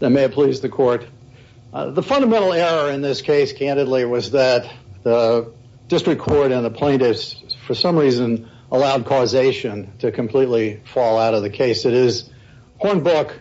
I may have pleased the court. The fundamental error in this case, candidly, was that the district court and the plaintiffs, for some reason, allowed causation to completely fall out of the case. It is Hornbook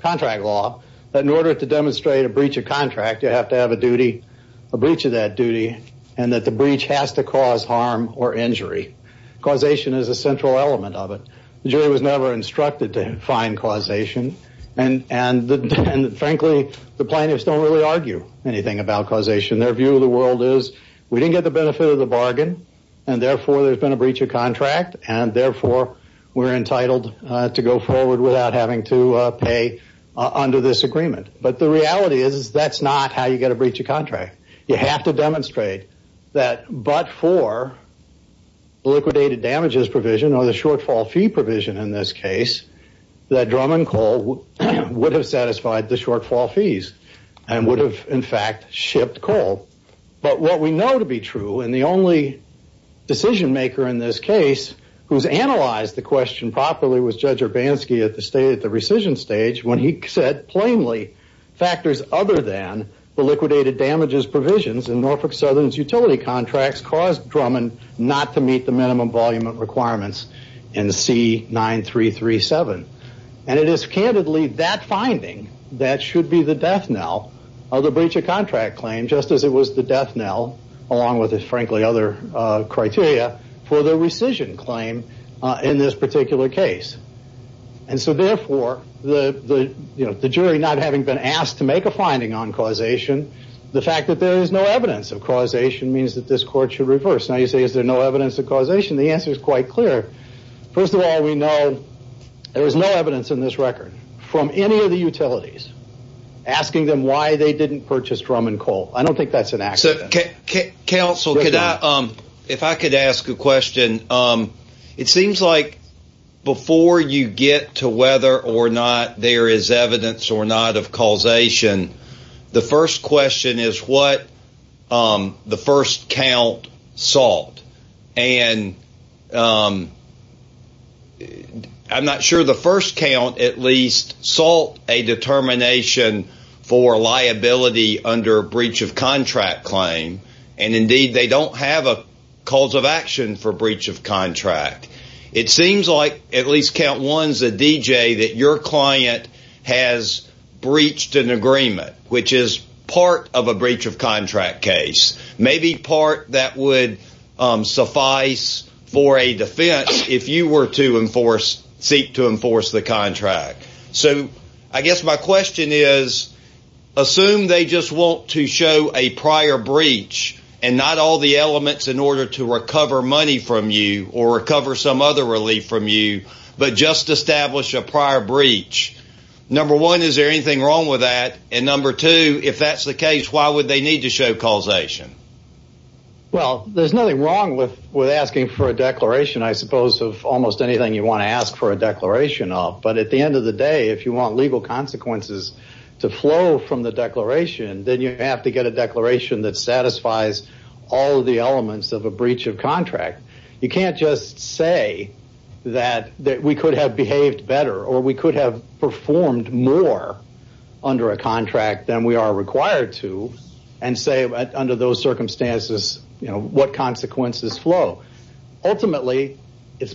contract law that in order to demonstrate a breach of contract, you have to have a duty, a breach of that duty, and that the breach has to cause harm or injury. Causation is a central element of it. The jury was never instructed to find causation. And frankly, the plaintiffs don't really argue anything about causation. Their view of the world is, we didn't get the benefit of the bargain, and therefore, there's been a breach of contract. And therefore, we're entitled to go forward without having to pay under this agreement. But the reality is, that's not how you get a breach of contract. You have to demonstrate that but for liquidated damages provision or the shortfall fee provision in this case, that Drummond Coal would have satisfied the shortfall fees and would have, in fact, shipped coal. But what we know to be true, and the only decision maker in this case who's analyzed the question properly was Judge Urbanski at the rescission stage when he said, plainly, factors other than the liquidated damages provisions in Norfolk Southern's utility contracts caused Drummond not to meet the minimum volume of requirements in C9337. And it is, candidly, that finding that should be the death knell of the breach of contract claim, just as it was the death knell, along with, frankly, other criteria for the rescission claim in this particular case. And so, therefore, the jury, not having been asked to make a finding on causation, the fact that there is no evidence of causation means that this court should reverse. Now, you say, is there no evidence of causation? The answer is quite clear. First of all, we know there is no evidence in this record from any of the utilities asking them why they didn't purchase Drummond Coal. I don't think that's an accident. Counsel, if I could ask a question. It seems like before you get to whether or not there is evidence or not of causation, the first question is what the first count sought. And I'm not sure the first count at least sought a determination for liability under a breach of contract claim, and, indeed, they don't have a cause of action for breach of contract. It seems like, at least count ones, a DJ that your client has breached an agreement, which is part of a breach of contract case, maybe part that would suffice for a defense if you were to enforce, seek to enforce the contract. So I guess my question is, assume they just want to show a prior breach and not all the elements in order to recover money from you or recover some other relief from you, but just establish a prior breach. Number one, is there anything wrong with that? And number two, if that's the case, why would they need to show causation? Well, there's nothing wrong with asking for a declaration, I suppose, of almost anything you want to ask for a declaration of. But at the end of the day, if you want legal consequences to flow from the declaration, then you have to get a declaration that satisfies all of the elements of a breach of contract. You can't just say that we could have behaved better or we could have performed more under a contract than we are required to and say, under those circumstances, what consequences flow. Ultimately, it is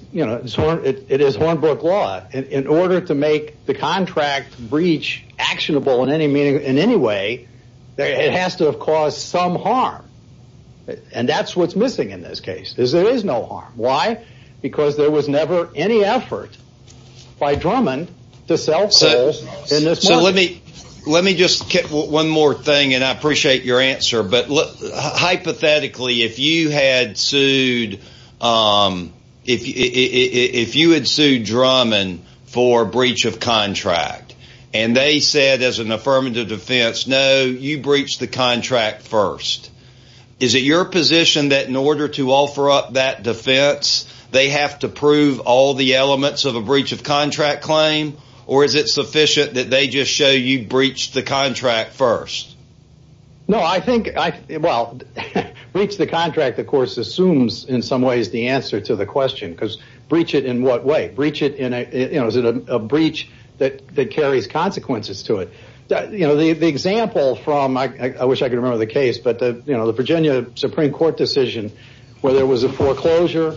Hornbrook law. In order to make the contract breach actionable in any way, it has to have caused some harm. And that's what's missing in this case, is there is no harm. Why? Because there was never any effort by Drummond to sell coal in this market. Let me just get one more thing, and I appreciate your answer, but hypothetically, if you had sued Drummond for breach of contract and they said as an affirmative defense, no, you breached the contract first. Is it your position that in order to offer up that defense, they have to prove all the elements of a breach of contract claim? Or is it sufficient that they just show you breached the contract first? No, I think, well, breach the contract, of course, assumes in some ways the answer to the question, because breach it in what way? Is it a breach that carries consequences to it? The example from, I wish I could remember the case, but the Virginia Supreme Court decision where there was a foreclosure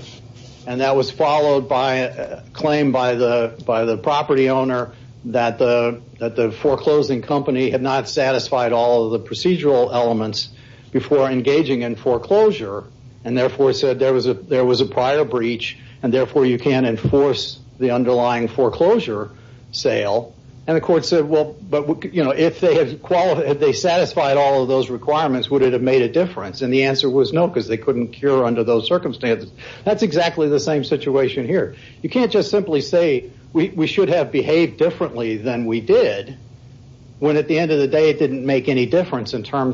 and that was followed by a claim by the property owner that the foreclosing company had not satisfied all of the procedural elements before engaging in foreclosure and therefore said there was a prior breach and therefore you can't enforce the underlying foreclosure sale. And the court said, well, but if they satisfied all of those requirements, would it have made a difference? And the answer was no, because they couldn't cure under those circumstances. That's exactly the same situation here. You can't just simply say we should have behaved differently than we did when at the end of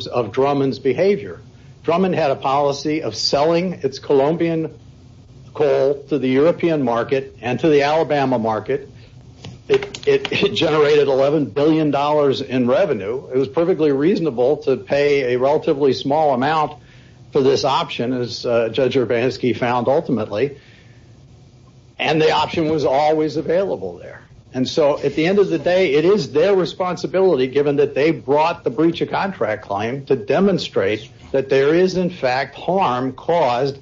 of Drummond's behavior. Drummond had a policy of selling its Colombian coal to the European market and to the Alabama market. It generated $11 billion in revenue. It was perfectly reasonable to pay a relatively small amount for this option, as Judge Urbanski found ultimately, and the option was always available there. And so at the end of the day, it is their responsibility, given that they brought the breach of contract claim to demonstrate that there is in fact harm caused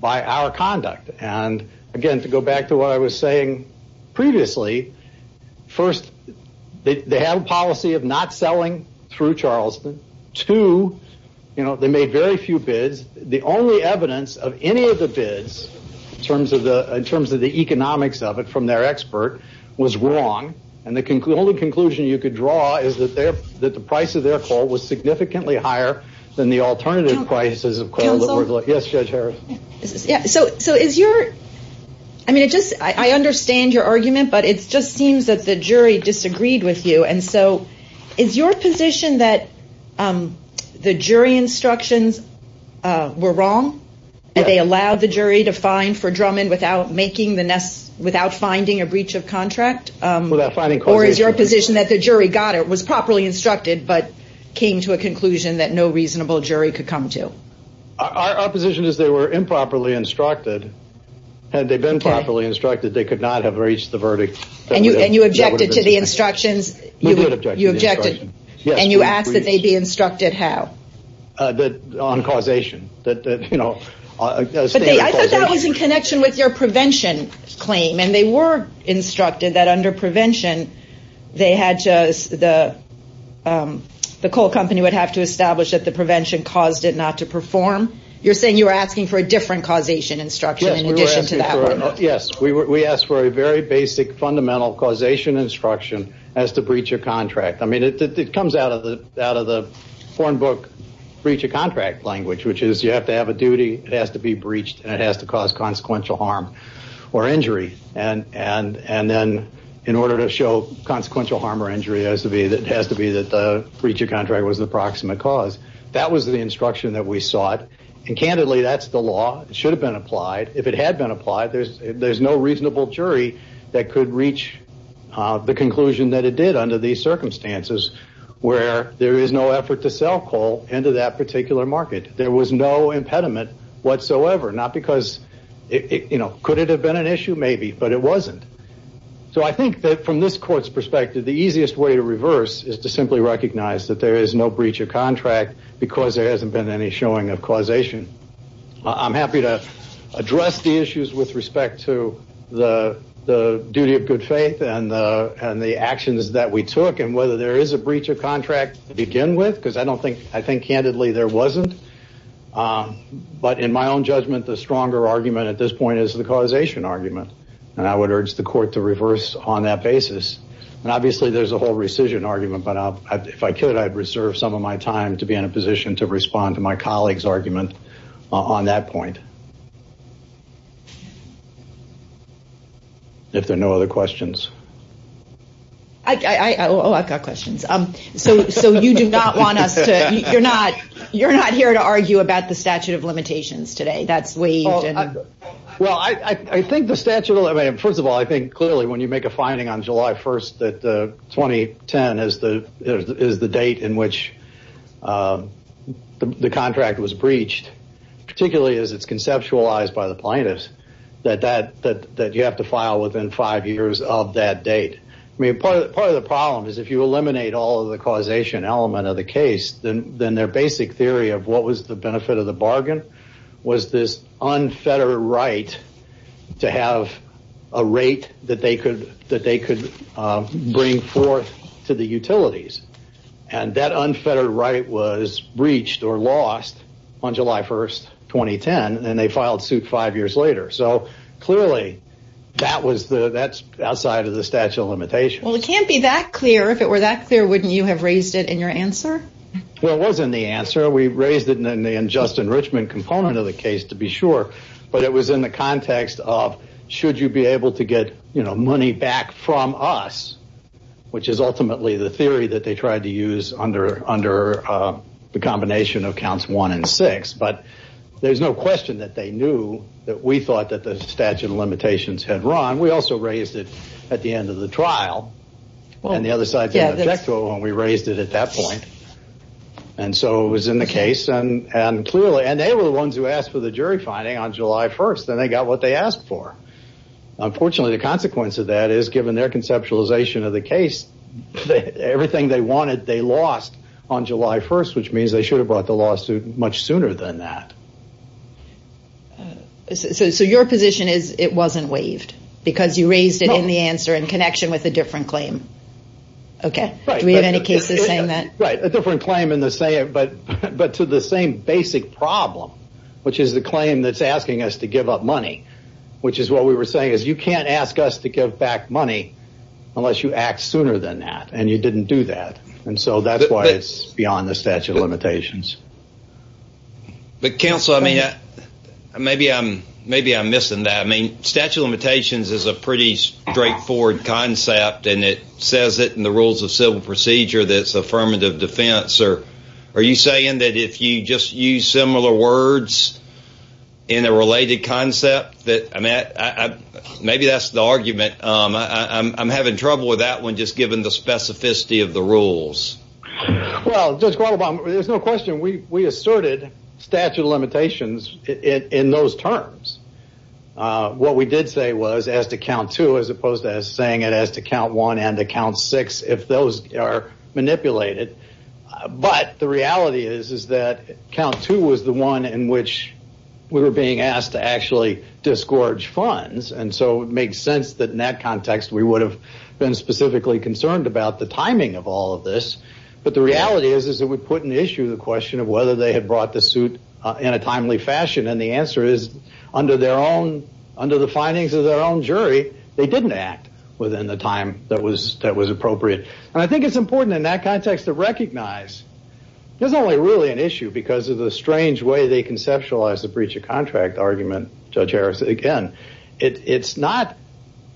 by our conduct. And again, to go back to what I was saying previously, first, they have a policy of not selling through Charleston to, you know, they made very few bids. The only evidence of any of the bids in terms of the in terms of the economics of it from their expert was wrong. And the only conclusion you could draw is that the price of their coal was significantly higher than the alternative prices of coal that were- Counsel? Yes, Judge Harris. So is your, I mean, I understand your argument, but it just seems that the jury disagreed with you. And so is your position that the jury instructions were wrong and they allowed the jury to fine a breach of contract? Without finding causation. Or is your position that the jury got it, was properly instructed, but came to a conclusion that no reasonable jury could come to? Our position is they were improperly instructed. Had they been properly instructed, they could not have reached the verdict. And you objected to the instructions? We did object to the instructions. You objected? Yes. And you asked that they be instructed how? On causation. But I thought that was in connection with your prevention claim. And they were instructed that under prevention, they had to, the coal company would have to establish that the prevention caused it not to perform. You're saying you were asking for a different causation instruction in addition to that? Yes. We asked for a very basic, fundamental causation instruction as to breach of contract. I mean, it comes out of the out of the foreign book breach of contract language, which is you have to have a duty. It has to be breached and it has to cause consequential harm or injury. And then in order to show consequential harm or injury, it has to be that the breach of contract was the proximate cause. That was the instruction that we sought. And candidly, that's the law. It should have been applied. If it had been applied, there's no reasonable jury that could reach the conclusion that it did under these circumstances where there is no effort to sell coal into that particular market. There was no impediment whatsoever. Not because, you know, could it have been an issue? Maybe, but it wasn't. So I think that from this court's perspective, the easiest way to reverse is to simply recognize that there is no breach of contract because there hasn't been any showing of causation. I'm happy to address the issues with respect to the duty of good faith and the actions that we took and whether there is a breach of contract to begin with, because I don't know. Candidly, there wasn't. But in my own judgment, the stronger argument at this point is the causation argument. And I would urge the court to reverse on that basis. And obviously there's a whole rescission argument, but if I could, I'd reserve some of my time to be in a position to respond to my colleague's argument on that point. If there are no other questions. Oh, I've got questions. So you do not want us to, you're not, you're not here to argue about the statute of limitations today. That's waived. Well, I think the statute, I mean, first of all, I think clearly when you make a finding on July 1st that 2010 is the date in which the contract was breached, particularly as it's conceptualized by the plaintiffs, that you have to file within five years of that date. I mean, part of the problem is if you eliminate all of the causation element of the case, then their basic theory of what was the benefit of the bargain was this unfettered right to have a rate that they could bring forth to the utilities. And that unfettered right was breached or lost on July 1st, 2010, and they filed suit five years later. So clearly that was the, that's outside of the statute of limitations. Well, it can't be that clear. If it were that clear, wouldn't you have raised it in your answer? Well, it wasn't the answer. We raised it in the, in Justin Richmond component of the case to be sure, but it was in the context of, should you be able to get, you know, money back from us, which is ultimately the theory that they tried to use under, under the combination of counts one and six. But there's no question that they knew that we thought that the statute of limitations had run. We also raised it at the end of the trial and the other side, we raised it at that point. And so it was in the case and, and clearly, and they were the ones who asked for the jury finding on July 1st and they got what they asked for. Unfortunately, the consequence of that is given their conceptualization of the case, everything they wanted, they lost on July 1st, which means they should have brought the lawsuit much sooner than that. So your position is it wasn't waived because you raised it in the answer in connection with a different claim. Okay. Do we have any cases saying that? Right. A different claim in the same, but, but to the same basic problem, which is the claim that's asking us to give up money, which is what we were saying is you can't ask us to give back money unless you act sooner than that. And you didn't do that. And so that's why it's beyond the statute of limitations. But counsel, I mean, maybe I'm, maybe I'm missing that. I mean, statute of limitations is a pretty straightforward concept and it says that in the rules of civil procedure, that's affirmative defense, or are you saying that if you just use similar words in a related concept that I'm at, maybe that's the argument I'm having trouble with that one. Just given the specificity of the rules, well, there's no question. We asserted statute of limitations in those terms. What we did say was as to count two, as opposed to saying it as to count one and to count six, if those are manipulated. But the reality is, is that count two was the one in which we were being asked to actually disgorge funds. And so it makes sense that in that context, we would have been specifically concerned about the timing of all of this. But the reality is, is it would put an issue, the question of whether they had brought the suit in a timely fashion. And the answer is under their own, under the findings of their own jury, they didn't act within the time that was, that was appropriate. And I think it's important in that context to recognize there's only really an issue because of the strange way they conceptualize the breach of contract argument. Judge Harris, again, it's not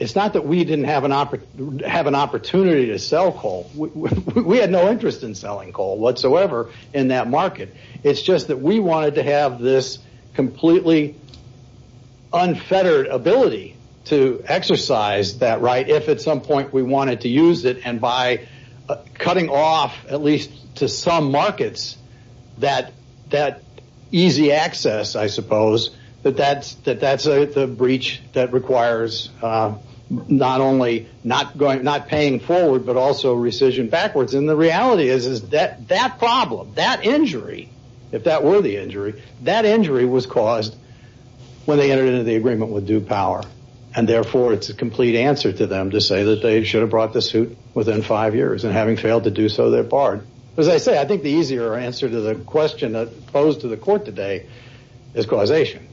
that we didn't have an opportunity to sell coal. We had no interest in selling coal whatsoever in that market. It's just that we wanted to have this completely unfettered ability to exercise that right if at some point we wanted to use it. And by cutting off at least to some markets that easy access, I suppose, that that's the breach that requires not only not going, not paying forward, but also rescission backwards. And the reality is, is that problem, that injury, if that were the injury, that injury was caused when they entered into the agreement with due power. And therefore, it's a complete answer to them to say that they should have brought the suit within five years. And having failed to do so, they're barred. As I say, I think the easier answer to the question posed to the court today is causation.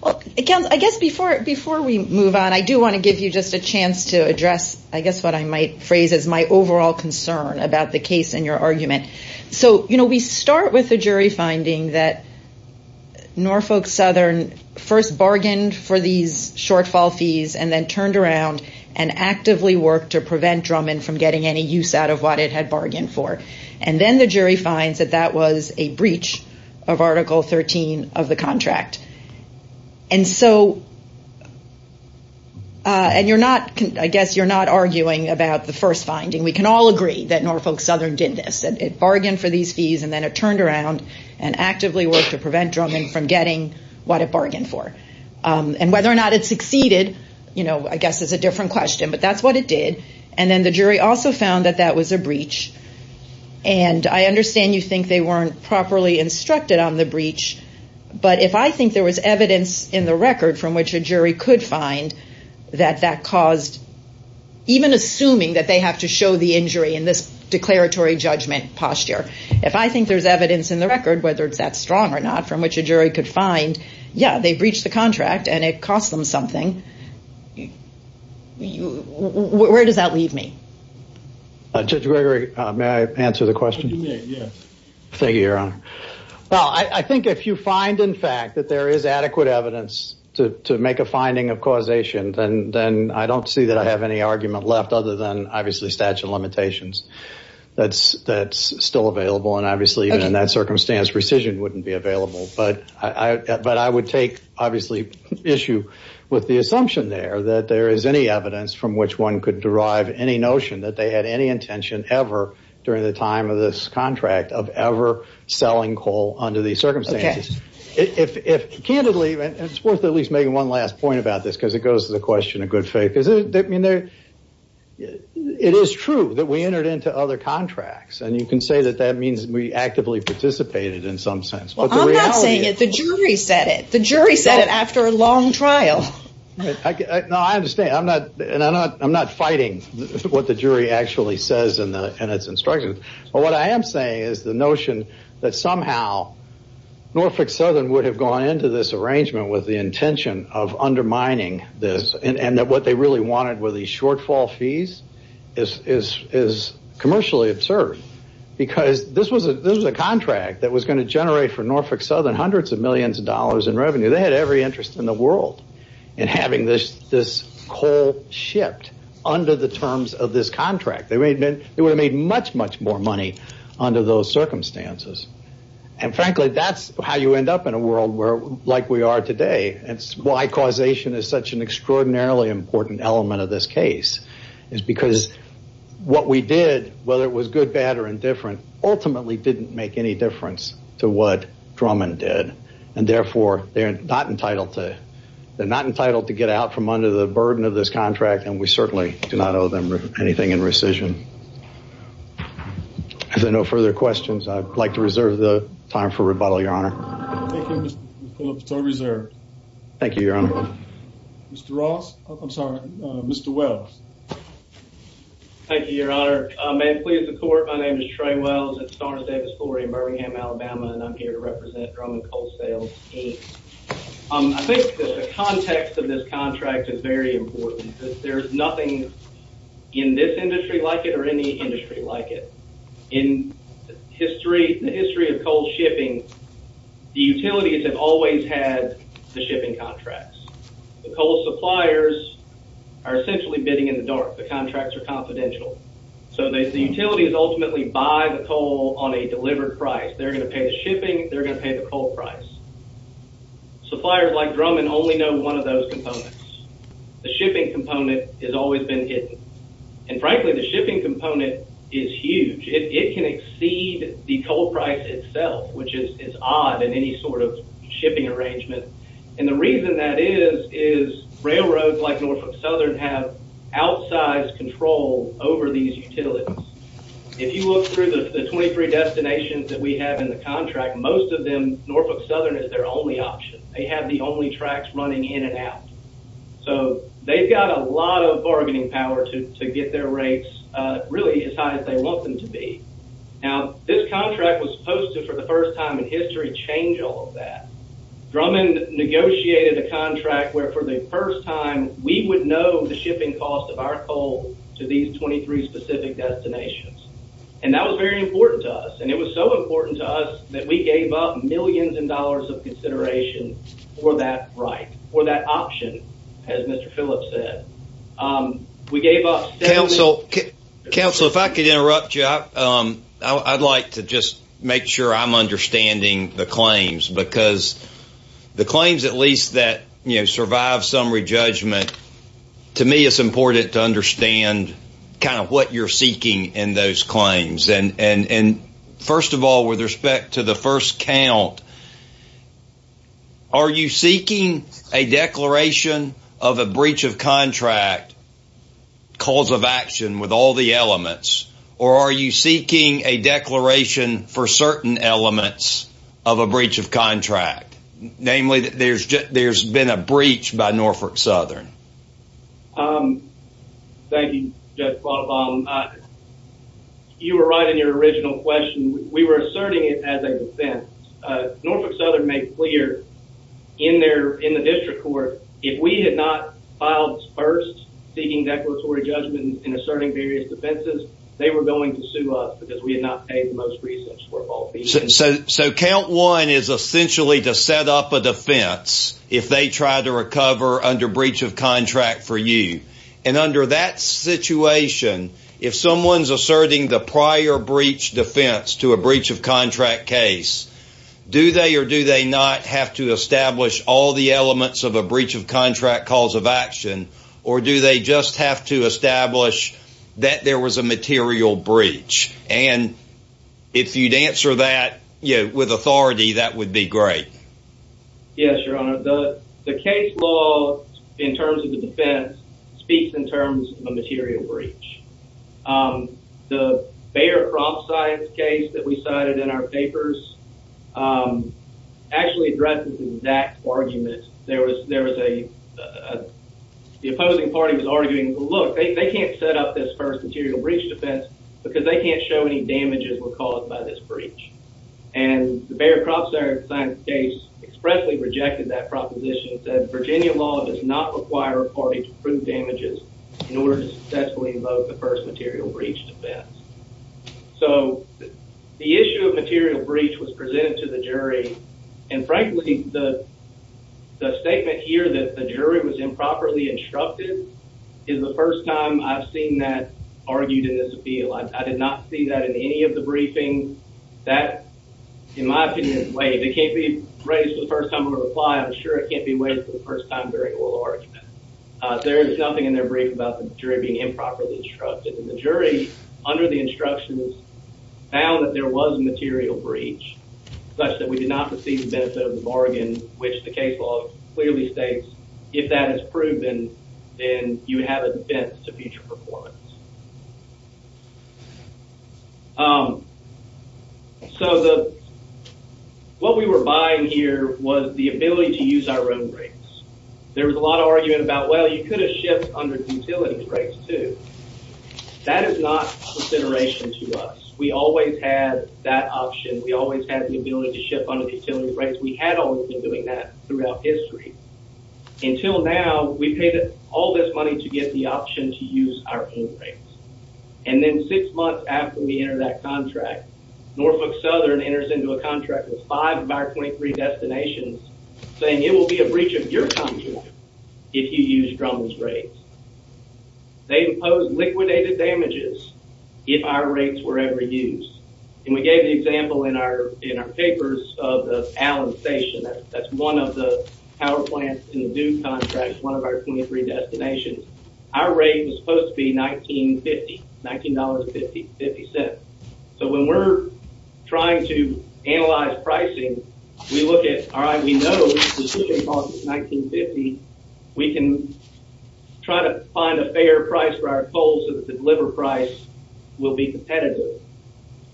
Well, I guess before, before we move on, I do want to give you just a chance to address, I guess what I might phrase as my overall concern about the case and your argument. So, you know, we start with the jury finding that Norfolk Southern first bargained for these shortfall fees and then turned around and actively worked to prevent Drummond from getting any use out of what it had bargained for. And then the jury finds that that was a breach of Article 13 of the contract. And so, and you're not, I guess you're not arguing about the first finding. We can all agree that Norfolk Southern did this, that it bargained for these fees and then it turned around and actively worked to prevent Drummond from getting what it bargained for. And whether or not it succeeded, you know, I guess is a different question, but that's what it did. And then the jury also found that that was a breach. And I understand you think they weren't properly instructed on the breach, but if I think there was evidence in the record from which a jury could find that that caused, even assuming that they have to show the injury in this declaratory judgment posture, if I think there's evidence in the record, whether it's that strong or not, from which a jury could find, yeah, they breached the contract and it cost them something. Where does that leave me? Judge Gregory, may I answer the question? Yes. Thank you, Your Honor. Well, I think if you find, in fact, that there is adequate evidence to make a finding of obviously statute of limitations that's still available, and obviously even in that circumstance rescission wouldn't be available, but I would take, obviously, issue with the assumption there that there is any evidence from which one could derive any notion that they had any intention ever during the time of this contract of ever selling coal under these circumstances. Okay. If, candidly, it's worth at least making one last point about this because it goes to the It is true that we entered into other contracts, and you can say that that means we actively participated in some sense, but the reality is... Well, I'm not saying it. The jury said it. The jury said it after a long trial. No, I understand, and I'm not fighting what the jury actually says in its instructions, but what I am saying is the notion that somehow Norfolk Southern would have gone into this arrangement with the intention of undermining this and that what they really wanted were these shortfall fees is commercially absurd because this was a contract that was going to generate for Norfolk Southern hundreds of millions of dollars in revenue. They had every interest in the world in having this coal shipped under the terms of this contract. They would have made much, much more money under those circumstances, and frankly, that's how you end up in a world like we are today, and it's why causation is such an extraordinarily important element of this case is because what we did, whether it was good, bad, or indifferent, ultimately didn't make any difference to what Drummond did, and therefore, they are not entitled to... they are not entitled to get out from under the burden of this contract, and we certainly do not owe them anything in rescission. If there are no further questions, I would like to reserve the time for rebuttal, Your Honor. Thank you, Mr. Kulop. So reserved. Thank you, Your Honor. Mr. Ross. I'm sorry. Mr. Wells. Thank you, Your Honor. May it please the Court. My name is Trey Wells. It's Stars, Davis, Glory in Birmingham, Alabama, and I'm here to represent Drummond Coal Sales Inc. I think that the context of this contract is very important because there is nothing in this industry like it or any industry like it. In the history of coal shipping, the utilities have always had the shipping contracts. The coal suppliers are essentially bidding in the dark. The contracts are confidential. So the utilities ultimately buy the coal on a delivered price. They're going to pay the shipping. They're going to pay the coal price. Suppliers like Drummond only know one of those components. The shipping component has always been hidden, and frankly, the shipping component is huge. It can exceed the coal price itself, which is odd in any sort of shipping arrangement, and the reason that is, is railroads like Norfolk Southern have outsized control over these utilities. If you look through the 23 destinations that we have in the contract, most of them, Norfolk Southern is their only option. They have the only tracks running in and out. So they've got a lot of bargaining power to get their rates really as high as they want them to be. Now, this contract was supposed to, for the first time in history, change all of that. Drummond negotiated a contract where for the first time, we would know the shipping cost of our coal to these 23 specific destinations, and that was very important to us, and it was so important to us that we gave up millions of dollars of consideration for that right, for that option, as Mr. Phillips said. We gave up... Council, if I could interrupt you, I'd like to just make sure I'm understanding the claims because the claims, at least that survive some re-judgment, to me, it's important to understand kind of what you're seeking in those claims, and first of all, with respect to the first count, are you seeking a declaration of a breach of contract cause of action with all the elements, or are you seeking a declaration for certain elements of a breach of contract? Namely, that there's been a breach by Norfolk Southern. Thank you, Judge Quattlebaum. You were right in your original question. We were asserting it as a defense. Norfolk Southern made clear in the district court, if we had not filed first seeking declaratory judgment in asserting various defenses, they were going to sue us because we had not paid the most recent score of all fees. So count one is essentially to set up a defense if they try to recover under breach of contract for you, and under that situation, if someone's asserting the prior breach defense to a breach of contract case, do they or do they not have to establish all the elements of a breach of contract cause of action, or do they just have to establish that there was a material breach? And if you'd answer that with authority, that would be great. Yes, Your Honor. The case law in terms of the defense speaks in terms of a material breach. The Bayer-Crompsci case that we cited in our papers actually addresses that argument. There was a, the opposing party was arguing, well, look, they can't set up this first material breach defense because they can't show any damages were caused by this breach. And the Bayer-Crompsci case expressly rejected that proposition, said Virginia law does not require a party to prove damages in order to successfully invoke the first material breach defense. So, the issue of material breach was presented to the jury, and frankly, the statement here that the jury was improperly instructed is the first time I've seen that argued in this appeal. I did not see that in any of the briefings. That, in my opinion, is way, it can't be raised for the first time in a reply, I'm sure it can't be raised for the first time during oral argument. There is nothing in their brief about the jury being improperly instructed, and the instructions found that there was a material breach, such that we did not receive the benefit of the bargain, which the case law clearly states, if that is proven, then you have a defense to future performance. So, the, what we were buying here was the ability to use our own rates. There was a lot of argument about, well, you could have shipped under utility rates, too. That is not a consideration to us. We always had that option. We always had the ability to ship under the utility rates. We had always been doing that throughout history. Until now, we paid all this money to get the option to use our own rates. And then six months after we entered that contract, Norfolk Southern enters into a contract with five of our 23 destinations, saying it will be a breach of your contract if you use Drummond's rates. They impose liquidated damages if our rates were ever used. And we gave the example in our papers of the Allen Station. That's one of the power plants in the Duke contract, one of our 23 destinations. Our rate was supposed to be $19.50. So, when we're trying to analyze pricing, we look at, all right, we know the fishing costs. We're trying to find a fair price for our coals so that the deliver price will be competitive.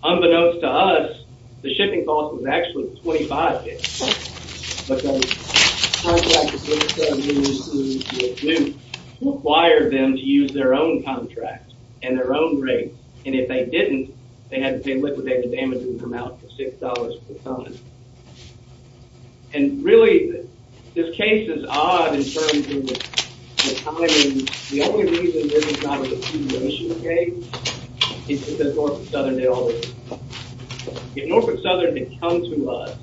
Unbeknownst to us, the shipping cost was actually $25.00. But the contract that we were supposed to use with Duke required them to use their own contract and their own rates. And if they didn't, they had to pay liquidated damages amount of $6.00 per ton. And really, this case is odd in terms of timing. The only reason this is not a repudiation case is because Norfolk Southern did all this. If Norfolk Southern had come to us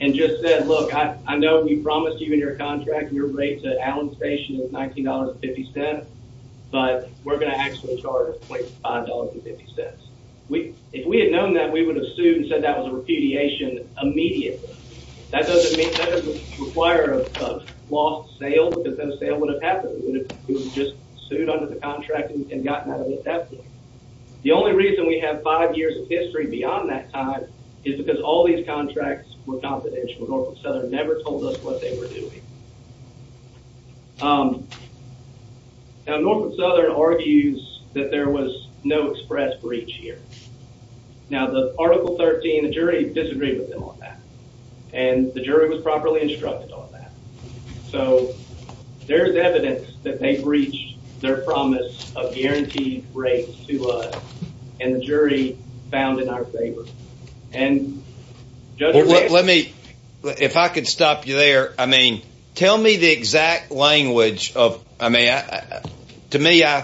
and just said, look, I know we promised you in your contract your rates at Allen Station was $19.50, but we're going to actually charge $25.50. If we had known that, we would have sued and said that was a repudiation immediately. That doesn't mean, that doesn't require a lost sale because no sale would have happened. We would have just sued under the contract and gotten out of it that way. The only reason we have five years of history beyond that time is because all these contracts were confidential. Norfolk Southern never told us what they were doing. Now, Norfolk Southern argues that there was no express breach here. Now, the Article 13, the jury disagreed with them on that. And the jury was properly instructed on that. So, there's evidence that they breached their promise of guaranteed rates to us. And the jury found in our favor. Let me, if I could stop you there. I mean, tell me the exact language of, I mean, to me, I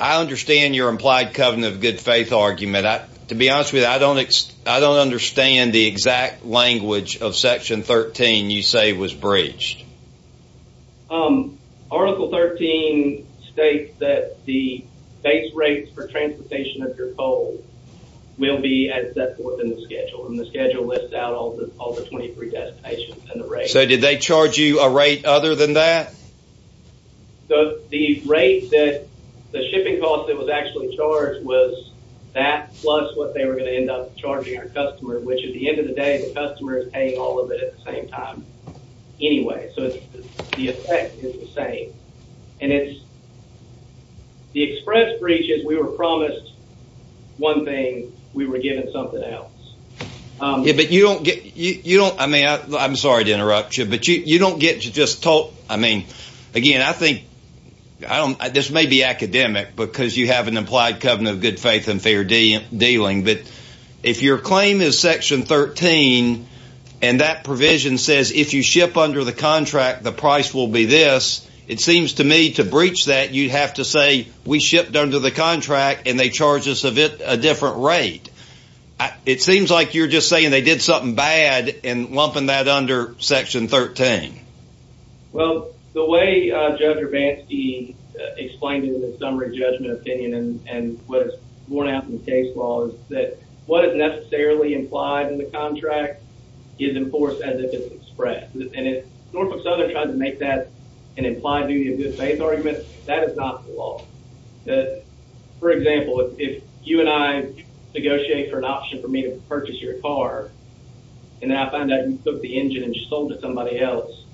understand your implied covenant of good faith argument. To be honest with you, I don't understand the exact language of Section 13 you say was breached. Article 13 states that the base rates for transportation of your coal will be as set forth in the schedule. And the schedule lists out all the 23 destinations and the rates. So, did they charge you a rate other than that? The rate that, the shipping cost that was actually charged was that plus what they were going to end up charging our customer, which at the end of the day, the customer is paying all of it at the same time anyway. So, the effect is the same. And it's, the express breach is we were promised one thing. We were given something else. Yeah, but you don't get, you don't, I mean, I'm sorry to interrupt you, but you don't get to just talk, I mean, again, I think, I don't, this may be academic because you have an implied covenant of good faith and fair dealing. But if your claim is Section 13 and that provision says if you ship under the contract the price will be this, it seems to me to breach that you'd have to say we shipped under the contract and they charged us a different rate. It seems like you're just saying they did something bad and lumping that under Section 13. Well, the way Judge Urbanski explained it in his summary judgment opinion and what is borne out in the case law is that what is necessarily implied in the contract is enforced as if it's expressed. And if Norfolk Southern tried to make that an implied duty of good faith argument, that is not the law. That, for example, if you and I negotiate for an option for me to purchase your car and I find out you took the engine and sold it to somebody else,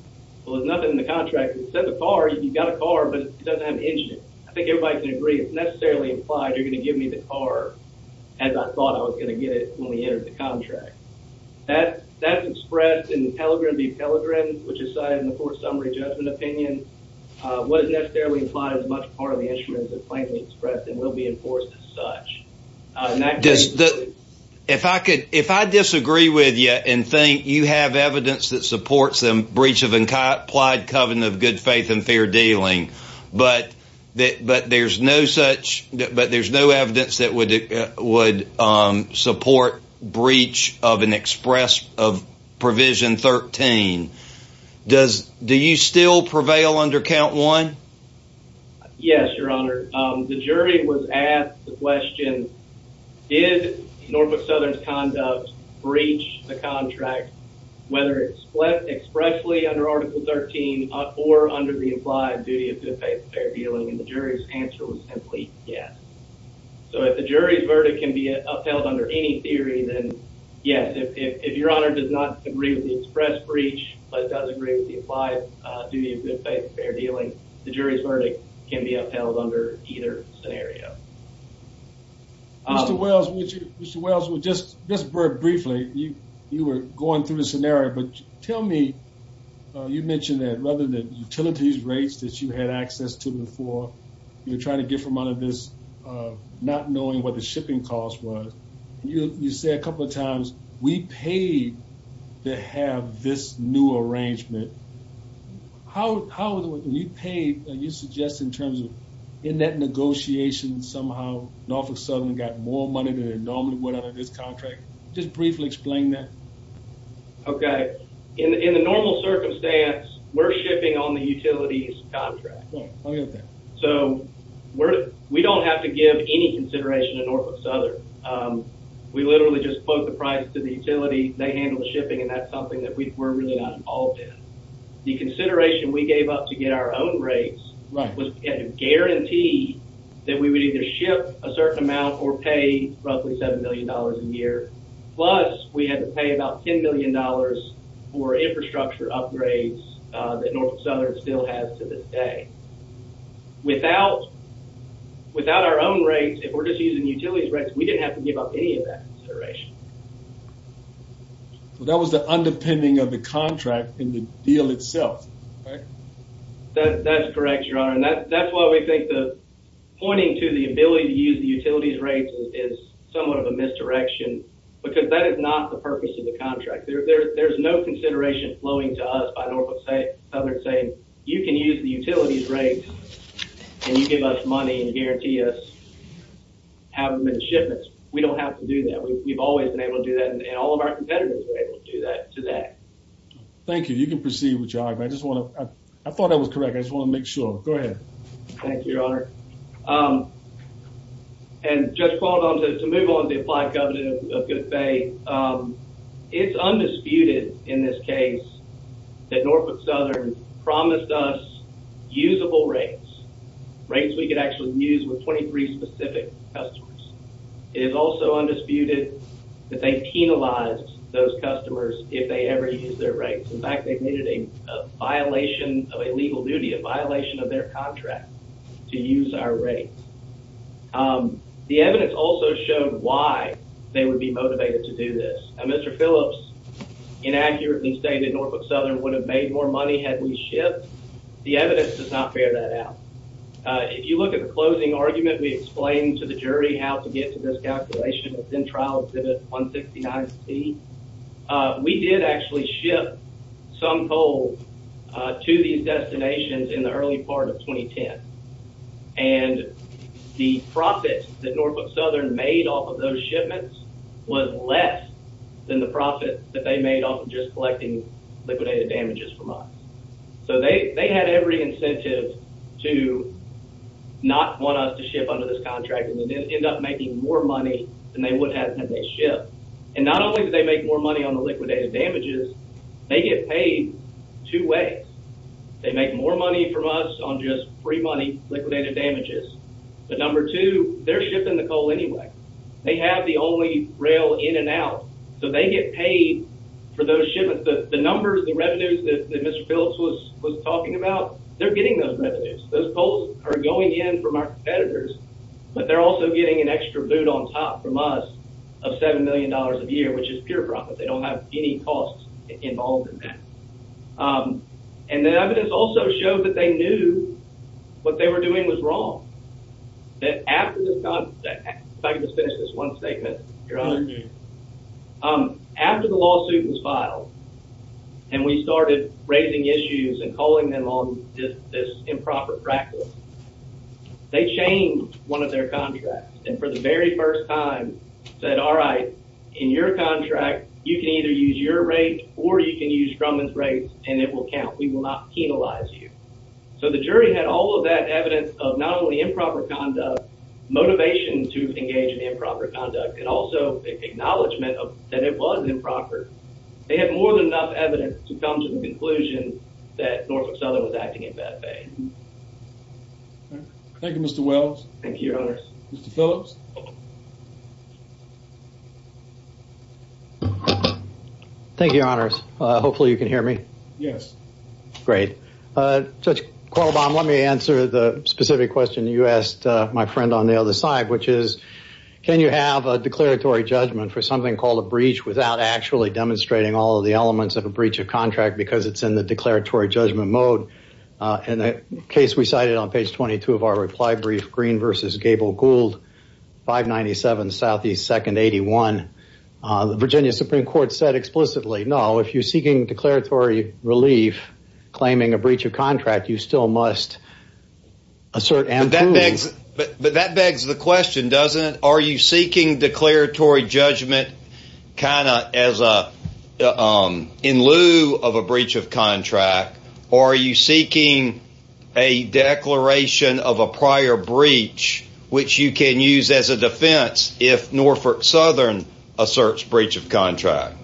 well, there's nothing in the contract that says a car, you've got a car, but it doesn't have an engine. I think everybody can agree it's necessarily implied you're going to give me the car as I thought I was going to get it when we entered the contract. That's expressed in the Pelegrin v. Pelegrin, which is cited in the court's summary judgment opinion, what is necessarily implied is much part of the instruments that are plainly expressed and will be enforced as such. If I disagree with you and think you have evidence that supports the breach of implied covenant of good faith and fair dealing, but there's no evidence that would support breach of provision 13, do you still prevail under count one? Yes, your honor. The jury was asked the question, did Norfolk Southern's conduct breach the contract, whether expressly under article 13 or under the implied duty of good faith and fair dealing, and the jury's answer was simply yes. So if the jury's verdict can be upheld under any theory, then yes, if your honor does not agree with the express breach, but does agree with the implied duty of good faith and fair dealing, the jury's verdict can be upheld under either scenario. Mr. Wells, just very briefly, you were going through the scenario, but tell me, you mentioned that rather than utilities rates that you had access to before, you're trying to get from out of this not knowing what the shipping cost was. You say a couple of times we paid to have this new arrangement. How do you pay, do you suggest in terms of in that negotiation somehow Norfolk Southern got more money than it normally would out of this contract? Just briefly explain that. Okay, in the normal circumstance, we're shipping on the utilities contract. Right, I get that. So we don't have to give any consideration to Norfolk Southern. We literally just plug the price to the utility, they handle the shipping, and that's The consideration we gave up to get our own rates was a guarantee that we would either ship a certain amount or pay roughly $7 million a year, plus we had to pay about $10 million for infrastructure upgrades that Norfolk Southern still has to this day. Without our own rates, if we're just using utilities rates, we didn't have to give up any of that consideration. Well, that was the underpinning of the contract in the deal itself, right? That's correct, Your Honor. And that's why we think the pointing to the ability to use the utilities rates is somewhat of a misdirection because that is not the purpose of the contract. There's no consideration flowing to us by Norfolk Southern saying you can use the utilities rates and you give us money and guarantee us having the shipments. We don't have to do that. We've always been able to do that and all of our competitors were able to do that today. Thank you. You can proceed with your argument. I just want to, I thought that was correct. I just want to make sure. Go ahead. Thank you, Your Honor. And just to move on to the applied covenant of good faith, it's undisputed in this case that Norfolk Southern promised us usable rates, rates we could actually use with 23 specific customers. It is also undisputed that they penalized those customers if they ever used their rates. In fact, they've made it a violation of a legal duty, a violation of their contract to use our rates. The evidence also showed why they would be motivated to do this. Now, Mr. Phillips inaccurately stated Norfolk Southern would have made more money had we shipped. The evidence does not bear that out. If you look at the closing argument, we explained to the jury how to get to this calculation within trial exhibit 169C. We did actually ship some coal to these destinations in the early part of 2010. And the profit that Norfolk Southern made off of those shipments was less than the profit that they made off of just collecting liquidated damages from us. So, they had every incentive to not want us to ship under this contract and then end up making more money than they would have had they shipped. And not only did they make more money on the liquidated damages, they get paid two ways. They make more money from us on just free money, liquidated damages. But number two, they're shipping the coal anyway. They have the only rail in and out, so they get paid for those shipments. But the numbers, the revenues that Mr. Phillips was talking about, they're getting those revenues. Those coals are going in from our competitors, but they're also getting an extra boot on top from us of $7 million a year, which is pure profit. They don't have any costs involved in that. And the evidence also showed that they knew what they were doing was wrong. If I could just finish this one statement, Your Honor. After the lawsuit was filed and we started raising issues and calling them on this improper practice, they changed one of their contracts and for the very first time said, all right, in your contract, you can either use your rate or you can use Drummond's rates and it will count. We will not penalize you. So the jury had all of that evidence of not only improper conduct, motivation to engage in improper conduct, and also acknowledgement that it was improper. They had more than enough evidence to come to the conclusion that Norfolk Southern was acting in bad faith. Thank you, Mr. Wells. Thank you, Your Honors. Mr. Phillips. Thank you, Your Honors. Hopefully you can hear me. Yes. Great. Judge Qualbaum, let me answer the specific question you asked my friend on the other side, which is, can you have a declaratory judgment for something called a breach without actually demonstrating all of the elements of a breach of contract because it's in the declaratory judgment mode? In the case we cited on page 22 of our reply brief, Green versus Gable Gould, 597 Southeast 2nd 81. The Virginia Supreme Court said explicitly, no, if you're seeking declaratory relief, claiming a breach of contract, you still must assert and prove. But that begs the question, doesn't it? Are you seeking declaratory judgment kind of in lieu of a breach of contract, or are you seeking a declaration of a prior breach, which you can use as a defense if Norfolk Southern asserts breach of contract?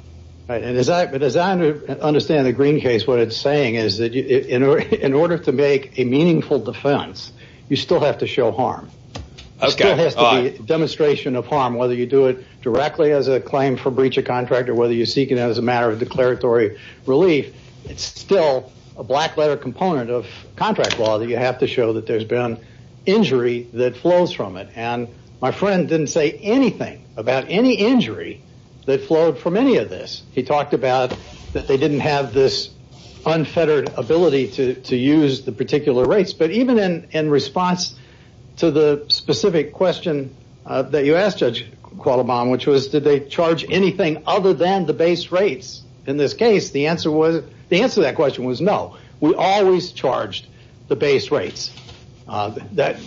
As I understand the Green case, what it's saying is that in order to make a meaningful defense, you still have to show harm. It still has to be a demonstration of harm, whether you do it directly as a claim for breach of contract or whether you seek it as a matter of declaratory relief. It's still a black letter component of contract law that you have to show that there's been injury that flows from it. My friend didn't say anything about any injury that flowed from any of this. He talked about that they didn't have this unfettered ability to use the particular rates. But even in response to the specific question that you asked, Judge Qualamon, which was did they charge anything other than the base rates in this case, the answer to that question was no. We always charged the base rates. Was that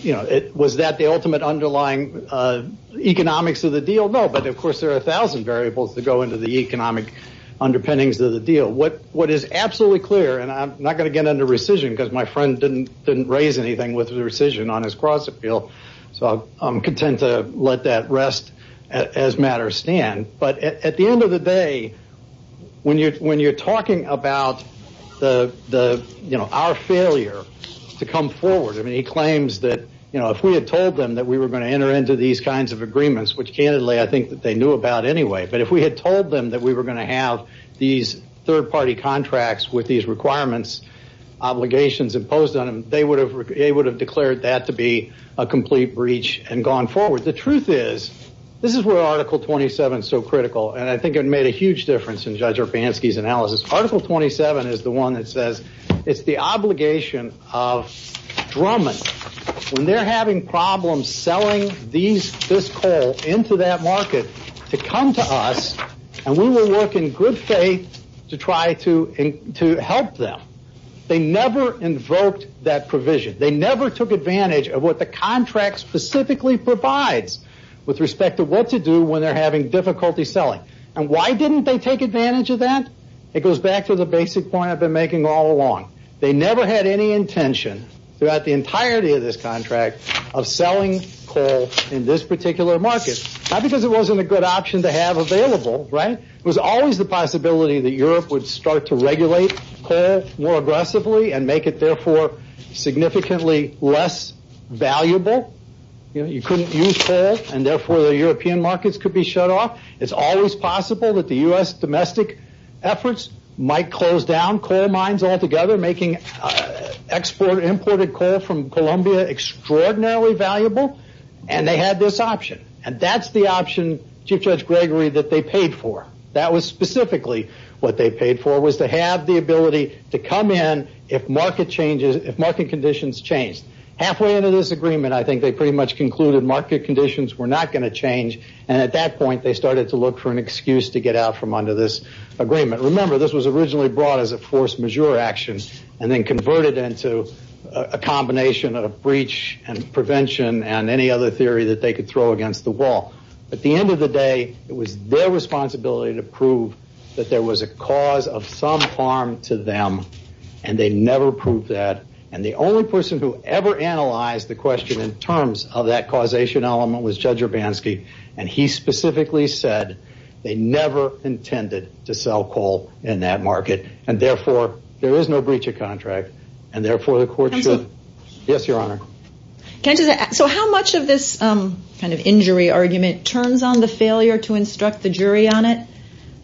the ultimate underlying economics of the deal? No, but of course there are a thousand variables that go into the economic underpinnings of the deal. What is absolutely clear, and I'm not going to get into rescission because my friend didn't raise anything with rescission on his cross-appeal, so I'm content to let that rest as matters stand. But at the end of the day, when you're talking about our failure to come forward, he claims that if we had told them that we were going to enter into these kinds of agreements, which candidly I think that they knew about anyway, but if we had told them that we were going to have these third-party contracts with these requirements, obligations imposed on them, they would have declared that to be a complete breach and gone forward. The truth is, this is where Article 27 is so critical, and I think it made a huge difference in Judge Urbanski's analysis. Article 27 is the one that says it's the obligation of Drummond. When they're having problems selling this coal into that market to come to us, and we will work in good faith to try to help them. They never invoked that provision. They never took advantage of what the contract specifically provides with respect to what to do when they're having difficulty selling. And why didn't they take advantage of that? It goes back to the basic point I've been making all along. They never had any intention throughout the entirety of this contract of selling coal in this particular market. Not because it wasn't a good option to have available, right? It was always the possibility that Europe would start to regulate coal more aggressively and make it, therefore, significantly less valuable. You couldn't use coal, and therefore, the European markets could be shut off. It's always possible that the U.S. domestic efforts might close down coal mines altogether, making imported coal from Colombia extraordinarily valuable. And they had this option. And that's the option, Chief Judge Gregory, that they paid for. That was specifically what they paid for, was to have the ability to come in if market conditions changed. Halfway into this agreement, I think they pretty much concluded market conditions were not going to change. And at that point, they started to look for an excuse to get out from under this agreement. Remember, this was originally brought as a force majeure action and then converted into a combination of breach and prevention and any other theory that they could throw against the wall. At the end of the day, it was their responsibility to prove that there was a cause of some harm to them. And they never proved that. And the only person who ever analyzed the question in terms of that causation element was Judge Urbanski. And he specifically said they never intended to sell coal in that market. And, therefore, there is no breach of contract. And, therefore, the court should- Counsel. Yes, Your Honor. So how much of this kind of injury argument turns on the failure to instruct the jury on it?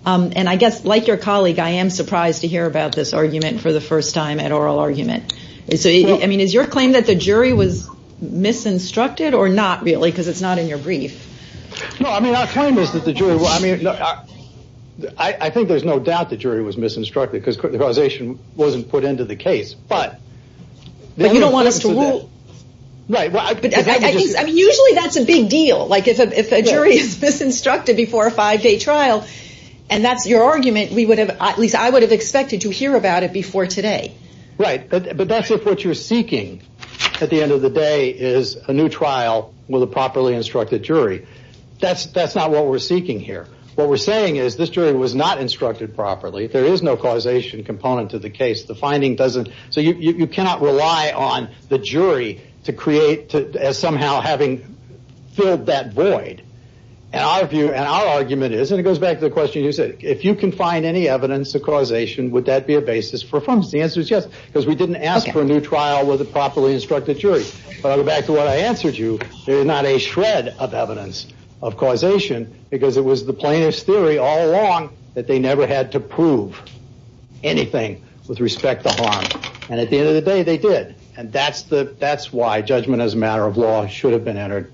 And I guess, like your colleague, I am surprised to hear about this argument for the first time at oral argument. So, I mean, is your claim that the jury was misinstructed or not, really, because it's not in your brief? No, I mean, our claim is that the jury- I mean, I think there's no doubt the jury was misinstructed because the causation wasn't put into the case. But you don't want us to rule. Right. I mean, usually that's a big deal. Like if a jury is misinstructed before a five-day trial, and that's your argument, we would have- at least I would have expected to hear about it before today. Right. But that's if what you're seeking at the end of the day is a new trial with a properly instructed jury. That's not what we're seeking here. What we're saying is this jury was not instructed properly. There is no causation component to the case. The finding doesn't- so you cannot rely on the jury to create- as somehow having filled that void. And our view and our argument is, and it goes back to the question you said, if you can find any evidence of causation, would that be a basis for affirmation? The answer is yes, because we didn't ask for a new trial with a properly instructed jury. But I'll go back to what I answered you. There is not a shred of evidence of causation because it was the plaintiff's theory all along that they never had to prove anything with respect to harm. And at the end of the day, they did. And that's why judgment as a matter of law should have been entered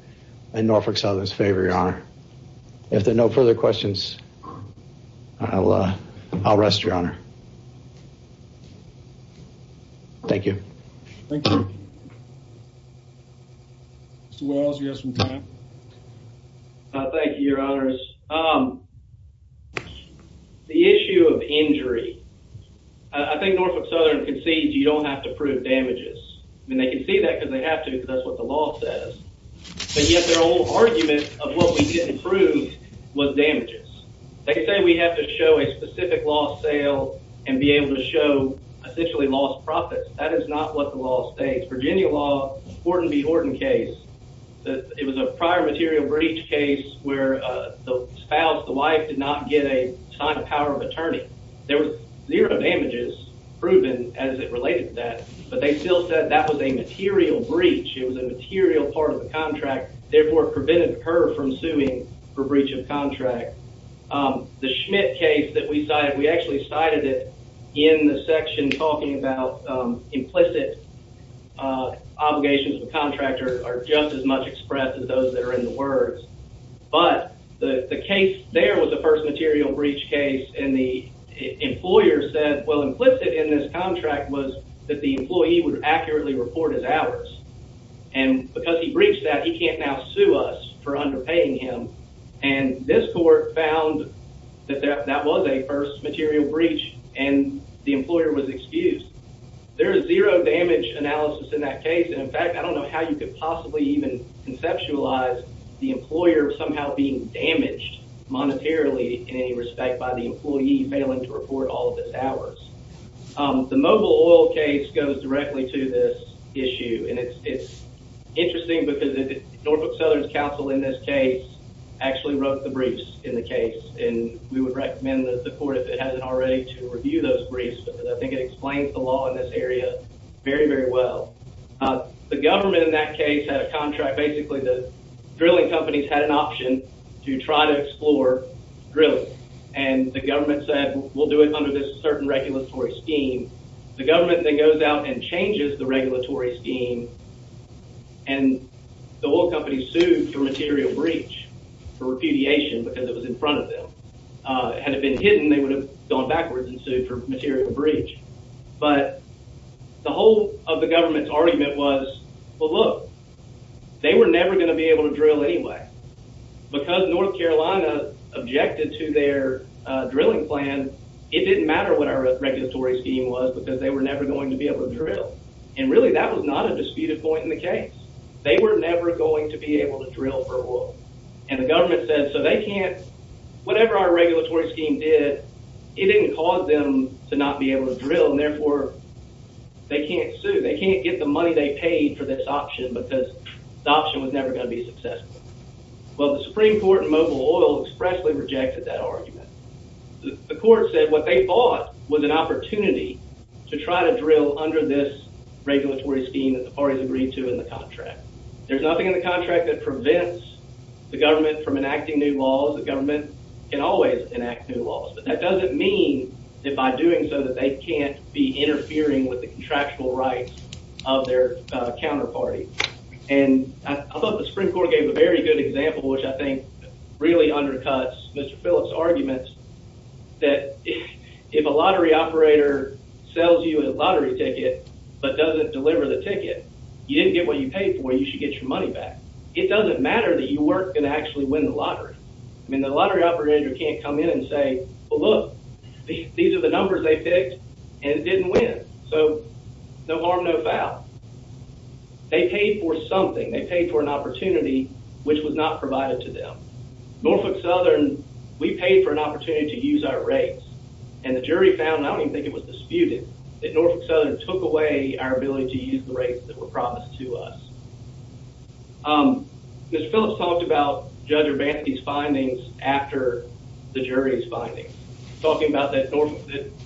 in Norfolk Southern's favor, Your Honor. If there are no further questions, I'll rest, Your Honor. Thank you. Thank you. Mr. Wells, you have some time. Thank you, Your Honors. The issue of injury, I think Norfolk Southern concedes you don't have to prove damages. I mean, they concede that because they have to because that's what the law says. But yet their whole argument of what we didn't prove was damages. They say we have to show a specific loss sale and be able to show essentially lost profits. That is not what the law states. Virginia law, Horton v. Horton case, it was a prior material breach case where the spouse, the wife, did not get a sign of power of attorney. There was zero damages proven as it related to that. But they still said that was a material breach. It was a material part of the contract, therefore prevented her from suing for breach of contract. The Schmidt case that we cited, we actually cited it in the section talking about implicit obligations of a contractor are just as much expressed as those that are in the words. But the case there was the first material breach case and the employer said, well, implicit in this contract was that the employee would accurately report as ours. And because he breached that, he can't now sue us for underpaying him. And this court found that that was a first material breach and the employer was excused. There is zero damage analysis in that case. In fact, I don't know how you could possibly even conceptualize the employer somehow being damaged monetarily in any respect by the employee failing to report all of his hours. The Mobile Oil case goes directly to this issue. And it's interesting because Norfolk Southern's counsel in this case actually wrote the briefs in the case. And we would recommend that the court, if it hasn't already, to review those briefs. But I think it explains the law in this area very, very well. The government in that case had a contract. Basically, the drilling companies had an option to try to explore drilling. And the government said, we'll do it under this certain regulatory scheme. The government then goes out and changes the regulatory scheme. And the oil companies sued for material breach, for repudiation, because it was in front of them. Had it been hidden, they would have gone backwards and sued for material breach. But the whole of the government's argument was, well, look, they were never going to be able to drill anyway. Because North Carolina objected to their drilling plan, it didn't matter what our regulatory scheme was, because they were never going to be able to drill. And really, that was not a disputed point in the case. They were never going to be able to drill for oil. And the government said, so they can't, whatever our regulatory scheme did, it didn't cause them to not be able to drill, and therefore, they can't sue. They can't get the money they paid for this option, because the option was never going to be successful. Well, the Supreme Court in Mobile Oil expressly rejected that argument. The court said what they fought was an opportunity to try to drill under this regulatory scheme that the parties agreed to in the contract. There's nothing in the contract that prevents the government from enacting new laws. The government can always enact new laws. But that doesn't mean that by doing so, that they can't be interfering with the contractual rights of their counterparty. And I thought the Supreme Court gave a very good example, which I think really undercuts Mr. Phillips' arguments, that if a lottery operator sells you a lottery ticket but doesn't deliver the ticket, you didn't get what you paid for, you should get your money back. It doesn't matter that you weren't going to actually win the lottery. I mean, the lottery operator can't come in and say, well, look, these are the numbers they picked, and it didn't win. So no harm, no foul. They paid for something. They paid for an opportunity which was not provided to them. Norfolk Southern, we paid for an opportunity to use our rates. And the jury found, and I don't even think it was disputed, that Norfolk Southern took away our ability to use the rates that were promised to us. Mr. Phillips talked about Judge Urbanski's findings after the jury's findings, talking about that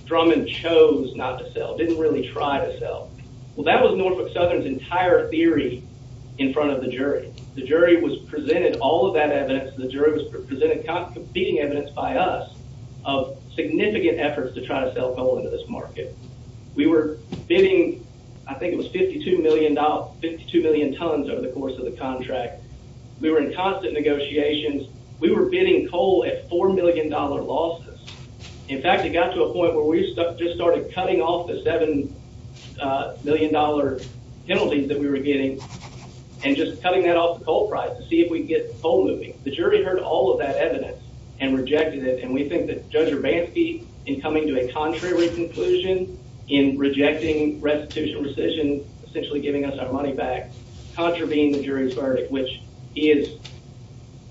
Drummond chose not to sell, didn't really try to sell. Well, that was Norfolk Southern's entire theory in front of the jury. The jury was presented all of that evidence. The jury was presented competing evidence by us of significant efforts to try to sell coal into this market. We were bidding, I think it was $52 million, 52 million tons over the course of the contract. We were in constant negotiations. We were bidding coal at $4 million losses. In fact, it got to a point where we just started cutting off the $7 million penalties that we were getting and just cutting that off the coal price to see if we could get coal moving. The jury heard all of that evidence and rejected it, and we think that Judge Urbanski, in coming to a contrary conclusion, in rejecting restitutional decision, essentially giving us our money back, contravened the jury's verdict, which he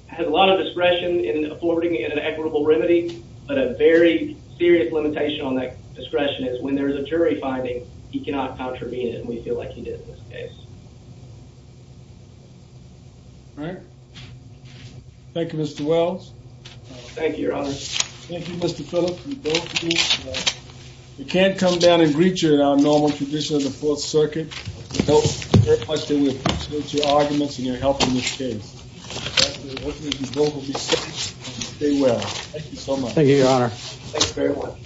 has a lot of discretion in affording an equitable remedy, but a very serious limitation on that discretion is when there is a jury finding, he cannot contravene it, and we feel like he did in this case. Thank you, Mr. Wells. Thank you, Your Honor. Thank you, Mr. Phillips. You can't come down and greet you in our normal tradition of the Fourth Circuit. We appreciate your arguments and your help in this case. We hope that you both will be safe and stay well. Thank you so much. Thank you, Your Honor. Thanks very much.